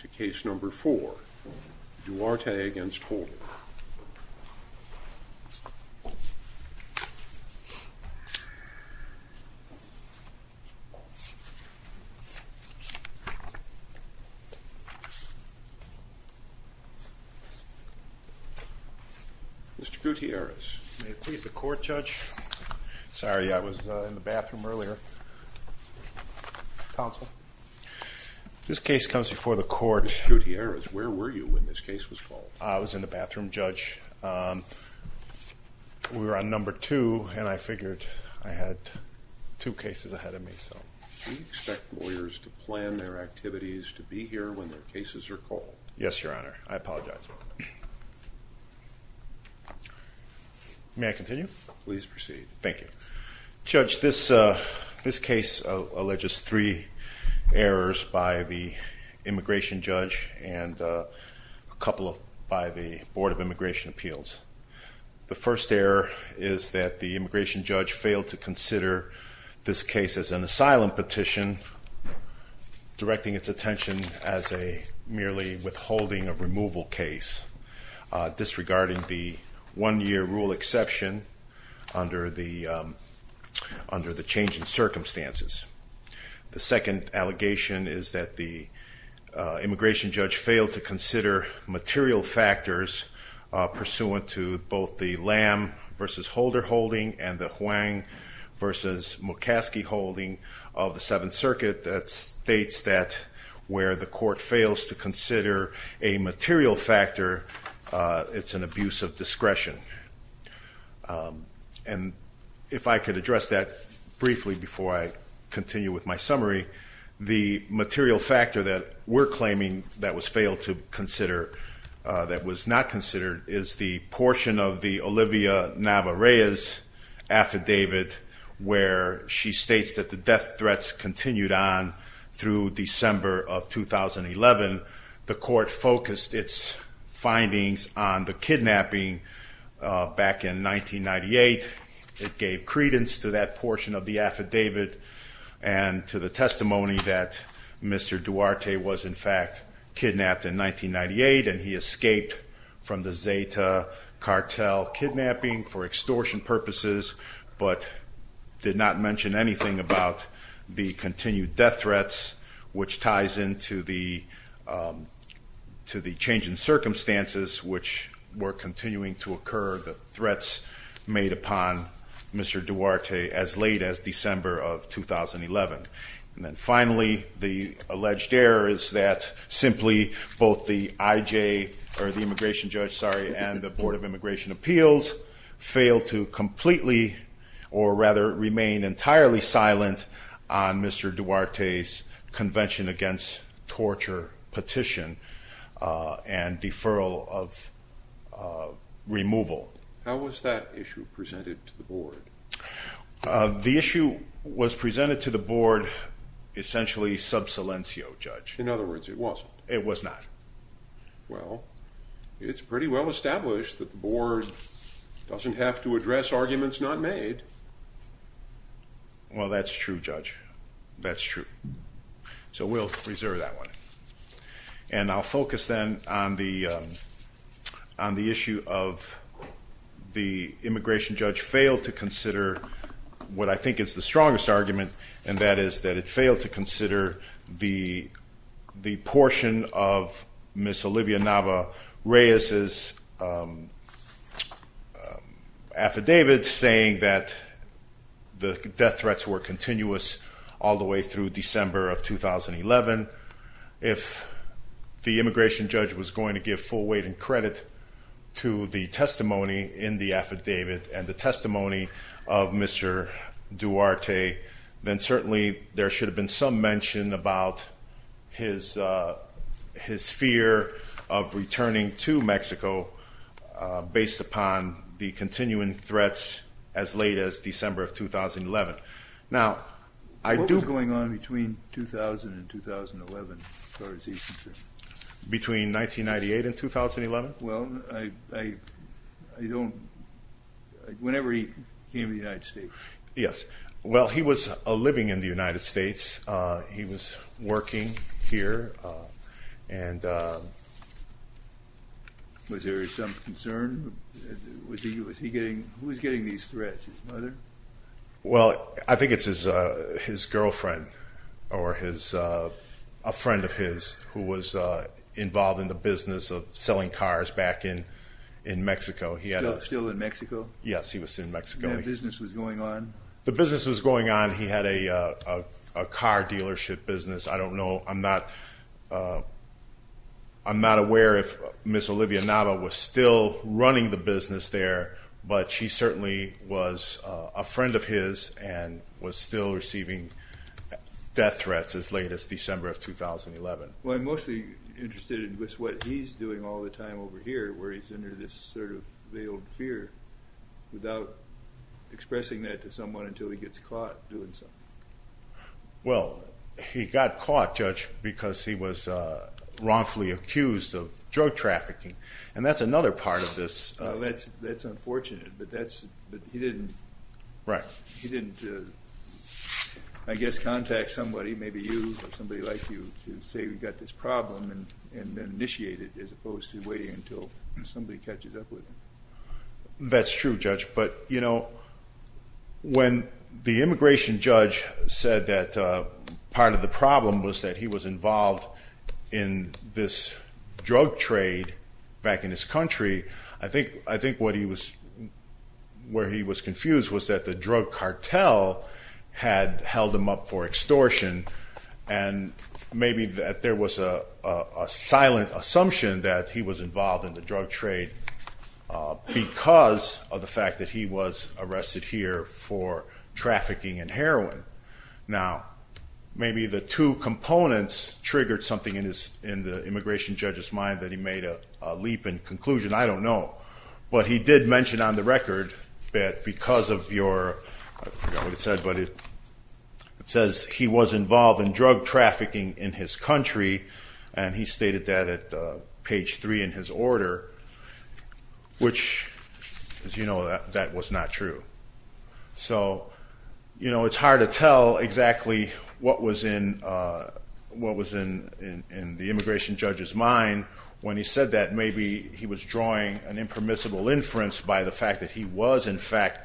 To case number four, Duarte v. Holder. Mr. Gutierrez. May it please the court, Judge. Sorry, I was in the bathroom earlier. Counsel. This case comes before the court. Mr. Gutierrez, where were you when this case was called? I was in the bathroom, Judge. We were on number two, and I figured I had two cases ahead of me. We expect lawyers to plan their activities to be here when their cases are called. Yes, Your Honor. I apologize. May I continue? Please proceed. Thank you. Judge, this case alleges three errors by the immigration judge and a couple by the Board of Immigration Appeals. The first error is that the immigration judge failed to consider this case as an asylum petition, directing its attention as a merely withholding of removal case, disregarding the one-year rule exception under the changing circumstances. The second allegation is that the immigration judge failed to consider material factors pursuant to both the Lam v. Holder holding and the Huang v. McCaskey holding of the Seventh Circuit that states that where the court fails to consider a material factor, it's an abuse of discretion. And if I could address that briefly before I continue with my summary, the material factor that we're claiming that was failed to consider, that was not considered, is the portion of the Olivia Navarrez affidavit where she states that the death threats continued on through December of 2011. The court focused its findings on the kidnapping back in 1998. It gave credence to that portion of the affidavit and to the testimony that Mr. Duarte was in fact kidnapped in 1998 and he escaped from the Zeta cartel kidnapping for extortion purposes, but did not mention anything about the continued death threats, which ties into the changing circumstances which were continuing to occur, the threats made upon Mr. Duarte as late as December of 2011. And then finally, the alleged error is that simply both the immigration judge and the Board of Immigration Appeals failed to completely or rather remain entirely silent on Mr. Duarte's Convention Against Torture petition and deferral of removal. How was that issue presented to the board? The issue was presented to the board essentially sub silencio, Judge. In other words, it wasn't? It was not. Well, it's pretty well established that the board doesn't have to address arguments not made. Well, that's true, Judge. That's true. So we'll reserve that one. And I'll focus then on the issue of the immigration judge failed to consider what I think is the strongest argument, and that is that it failed to consider the portion of Ms. Olivia Nava Reyes' affidavit saying that the death threats were continuous all the way through December of 2011. If the immigration judge was going to give full weight and credit to the testimony in the affidavit and the testimony of Mr. Duarte, then certainly there should have been some mention about his fear of returning to Mexico based upon the continuing threats as late as December of 2011. Now, I do... What was going on between 2000 and 2011, as far as he's concerned? Between 1998 and 2011? Well, I don't... Whenever he came to the United States. Yes. Well, he was living in the United States. He was working here and... Was there some concern? Was he getting... Who was getting these threats? His mother? Well, I think it's his girlfriend or a friend of his who was involved in the business of selling cars back in Mexico. Still in Mexico? Yes, he was in Mexico. And that business was going on? The business was going on. He had a car dealership business. I don't know. I'm not... I'm not aware if Ms. Olivia Nava was still running the business there, but she certainly was a friend of his and was still receiving death threats as late as December of 2011. Well, I'm mostly interested in what he's doing all the time over here, where he's under this sort of veiled fear without expressing that to someone until he gets caught doing something. Well, he got caught, Judge, because he was wrongfully accused of drug trafficking, and that's another part of this. That's unfortunate, but he didn't... Right. He didn't, I guess, contact somebody, maybe you or somebody like you, to say we've got this problem and initiate it as opposed to waiting until somebody catches up with him. That's true, Judge. But, you know, when the immigration judge said that part of the problem was that he was involved in this drug trade back in his country, I think where he was confused was that the drug cartel had held him up for extortion and maybe that there was a silent assumption that he was involved in the drug trade because of the fact that he was arrested here for trafficking in heroin. Now, maybe the two components triggered something in the immigration judge's mind that he made a leap in conclusion. I don't know. But he did mention on the record that because of your... I forgot what it said, but it says he was involved in drug trafficking in his country, and he stated that at page 3 in his order, which, as you know, that was not true. So, you know, it's hard to tell exactly what was in the immigration judge's mind when he said that maybe he was drawing an impermissible inference by the fact that he was, in fact,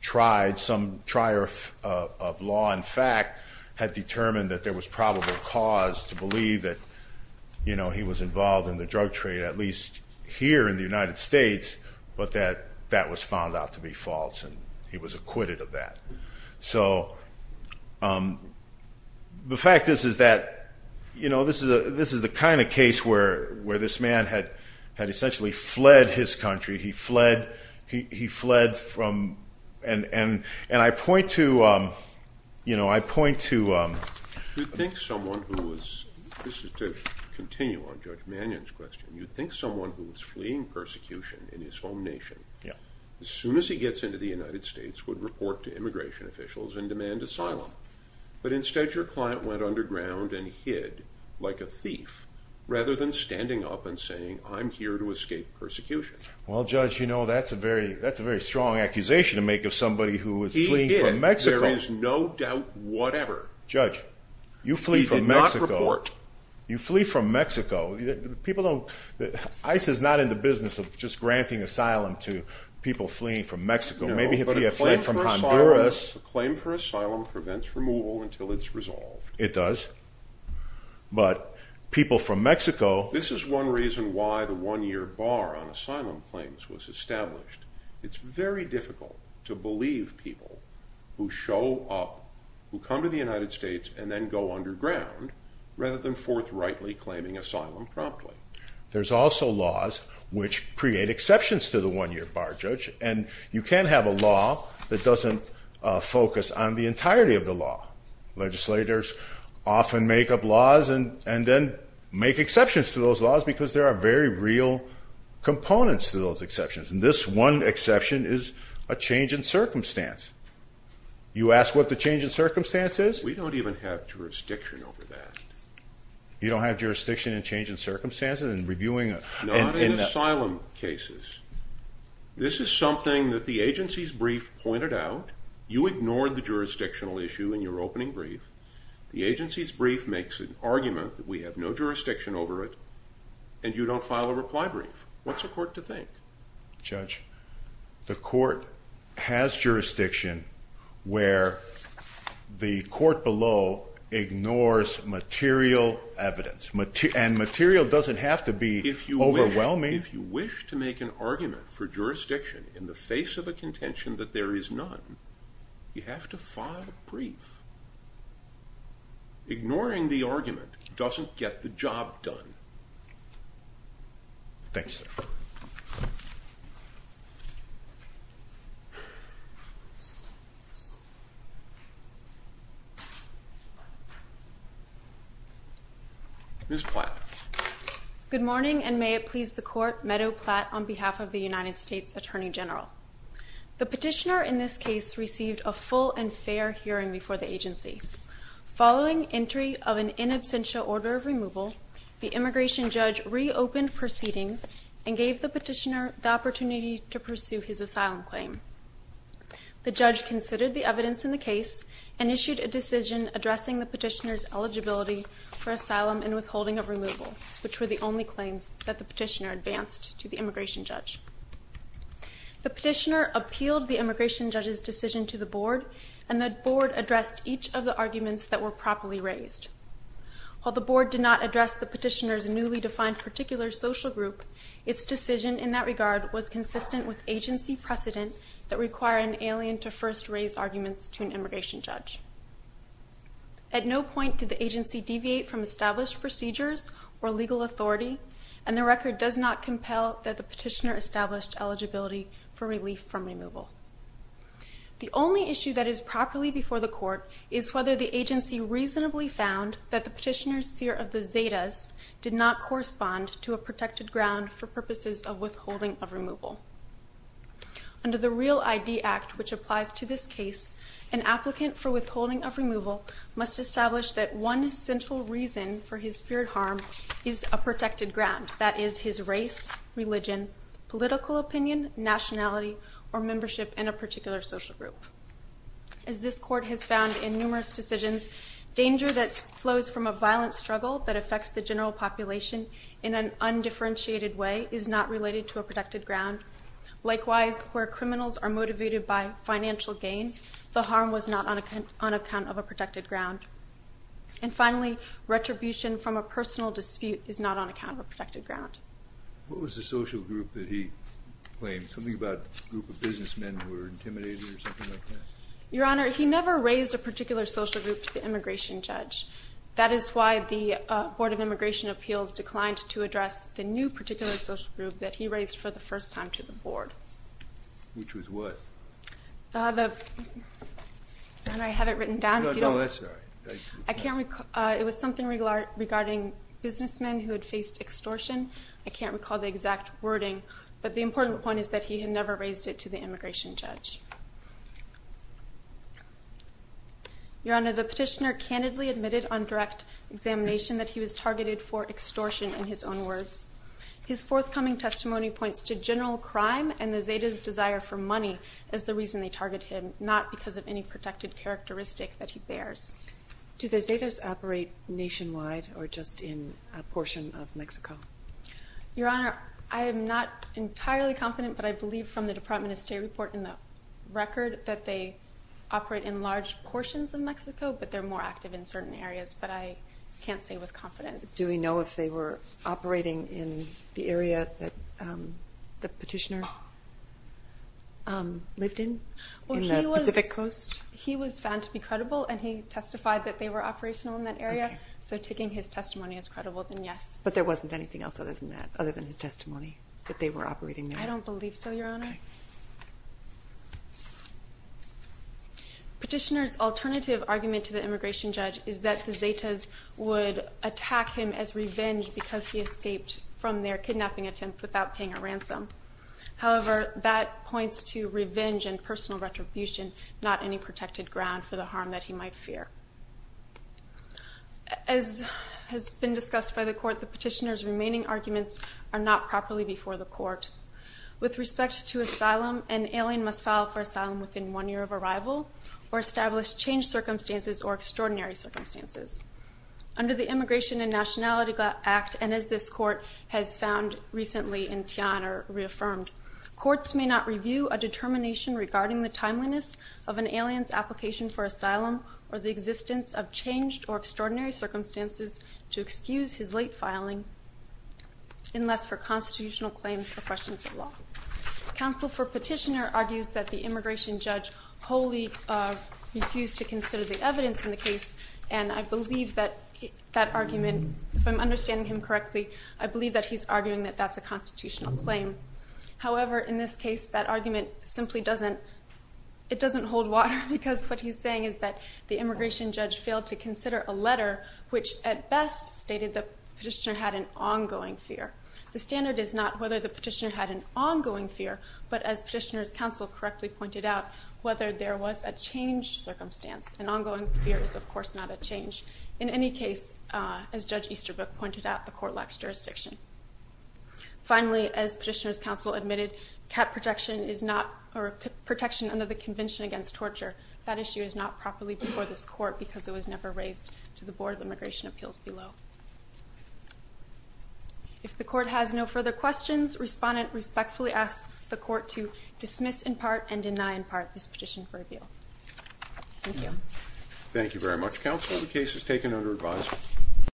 tried, some trier of law and fact had determined that there was probable cause to believe that, you know, he was involved in the drug trade, at least here in the United States, but that that was found out to be false, and he was acquitted of that. So the fact is that, you know, this is the kind of case where this man had essentially fled his country. He fled from... And I point to, you know, I point to... You'd think someone who was... This is to continue on Judge Mannion's question. You'd think someone who was fleeing persecution in his home nation, as soon as he gets into the United States, would report to immigration officials and demand asylum, but instead your client went underground and hid like a thief rather than standing up and saying, I'm here to escape persecution. Well, Judge, you know, that's a very strong accusation to make of somebody who was fleeing from Mexico. He hid. There is no doubt whatever. Judge, you flee from Mexico. He did not report. You flee from Mexico. People don't... ICE is not in the business of just granting asylum to people fleeing from Mexico. Maybe if he had fled from Honduras... No, but a claim for asylum prevents removal until it's resolved. It does. But people from Mexico... This is one reason why the one-year bar on asylum claims was established. It's very difficult to believe people who show up, who come to the United States and then go underground, rather than forthrightly claiming asylum promptly. There's also laws which create exceptions to the one-year bar, Judge, and you can't have a law that doesn't focus on the entirety of the law. Legislators often make up laws and then make exceptions to those laws because there are very real components to those exceptions, and this one exception is a change in circumstance. You ask what the change in circumstance is? We don't even have jurisdiction over that. You don't have jurisdiction in changing circumstances and reviewing... Not in asylum cases. This is something that the agency's brief pointed out. You ignored the jurisdictional issue in your opening brief. The agency's brief makes an argument that we have no jurisdiction over it, and you don't file a reply brief. What's a court to think? Judge, the court has jurisdiction where the court below ignores material evidence, and material doesn't have to be overwhelming. If you wish to make an argument for jurisdiction in the face of a contention that there is none, you have to file a brief. Ignoring the argument doesn't get the job done. Thank you, sir. Ms. Platt. Good morning, and may it please the court, Meadow Platt on behalf of the United States Attorney General. The petitioner in this case received a full and fair hearing before the agency. Following entry of an in absentia order of removal, the immigration judge reopened proceedings and gave the petitioner the opportunity to pursue his asylum claim. The judge considered the evidence in the case and issued a decision addressing the petitioner's eligibility for asylum and withholding of removal, which were the only claims that the petitioner advanced to the immigration judge. The petitioner appealed the immigration judge's decision to the board, and the board addressed each of the arguments that were properly raised. While the board did not address the petitioner's newly defined particular social group, its decision in that regard was consistent with agency precedent that require an alien to first raise arguments to an immigration judge. At no point did the agency deviate from established procedures or legal authority, and the record does not compel that the petitioner established eligibility for relief from removal. The only issue that is properly before the court is whether the agency reasonably found that the petitioner's fear of the Zetas did not correspond to a protected ground for purposes of withholding of removal. Under the REAL ID Act, which applies to this case, an applicant for withholding of removal must establish that one central reason for his feared harm is a protected ground. That is his race, religion, political opinion, nationality, or membership in a particular social group. As this court has found in numerous decisions, danger that flows from a violent struggle that affects the general population in an undifferentiated way is not related to a protected ground. Likewise, where criminals are motivated by financial gain, the harm was not on account of a protected ground. And finally, retribution from a personal dispute is not on account of a protected ground. What was the social group that he claimed? Something about a group of businessmen who were intimidated or something like that? Your Honor, he never raised a particular social group to the immigration judge. That is why the Board of Immigration Appeals declined to address the new particular social group that he raised for the first time to the Board. Which was what? Your Honor, I have it written down. No, that's all right. It was something regarding businessmen who had faced extortion. I can't recall the exact wording. But the important point is that he had never raised it to the immigration judge. Your Honor, the petitioner candidly admitted on direct examination that he was targeted for extortion in his own words. His forthcoming testimony points to general crime and the Zetas' desire for money as the reason they target him, not because of any protected characteristic that he bears. Do the Zetas operate nationwide or just in a portion of Mexico? Your Honor, I am not entirely confident, but I believe from the Department of State report and the record that they operate in large portions of Mexico, but they're more active in certain areas. But I can't say with confidence. Do we know if they were operating in the area that the petitioner lived in, in the Pacific Coast? He was found to be credible, and he testified that they were operational in that area. So taking his testimony as credible, then yes. But there wasn't anything else other than that, other than his testimony, that they were operating there? I don't believe so, Your Honor. Petitioner's alternative argument to the immigration judge is that the Zetas would attack him as revenge because he escaped from their kidnapping attempt without paying a ransom. However, that points to revenge and personal retribution, not any protected ground for the harm that he might fear. As has been discussed by the court, the petitioner's remaining arguments are not properly before the court. With respect to asylum, an alien must file for asylum within one year of arrival or establish changed circumstances or extraordinary circumstances. Under the Immigration and Nationality Act, and as this court has found recently in Tian or reaffirmed, courts may not review a determination regarding the timeliness of an alien's application for asylum or the existence of changed or extraordinary circumstances to excuse his late filing, unless for constitutional claims or questions of law. Counsel for Petitioner argues that the immigration judge wholly refused to consider the evidence in the case, and I believe that that argument, if I'm understanding him correctly, I believe that he's arguing that that's a constitutional claim. However, in this case, that argument simply doesn't, it doesn't hold water because what he's saying is that the immigration judge failed to consider a letter which at best stated the petitioner had an ongoing fear. The standard is not whether the petitioner had an ongoing fear, but as Petitioner's counsel correctly pointed out, whether there was a changed circumstance. An ongoing fear is, of course, not a change. In any case, as Judge Easterbrook pointed out, the court lacks jurisdiction. Finally, as Petitioner's counsel admitted, cat protection is not, or protection under the Convention Against Torture, that issue is not properly before this court because it was never raised to the Board of Immigration Appeals below. If the court has no further questions, respondent respectfully asks the court to dismiss in part and deny in part this petition for appeal. Thank you. Thank you very much, counsel. The case is taken under advisory.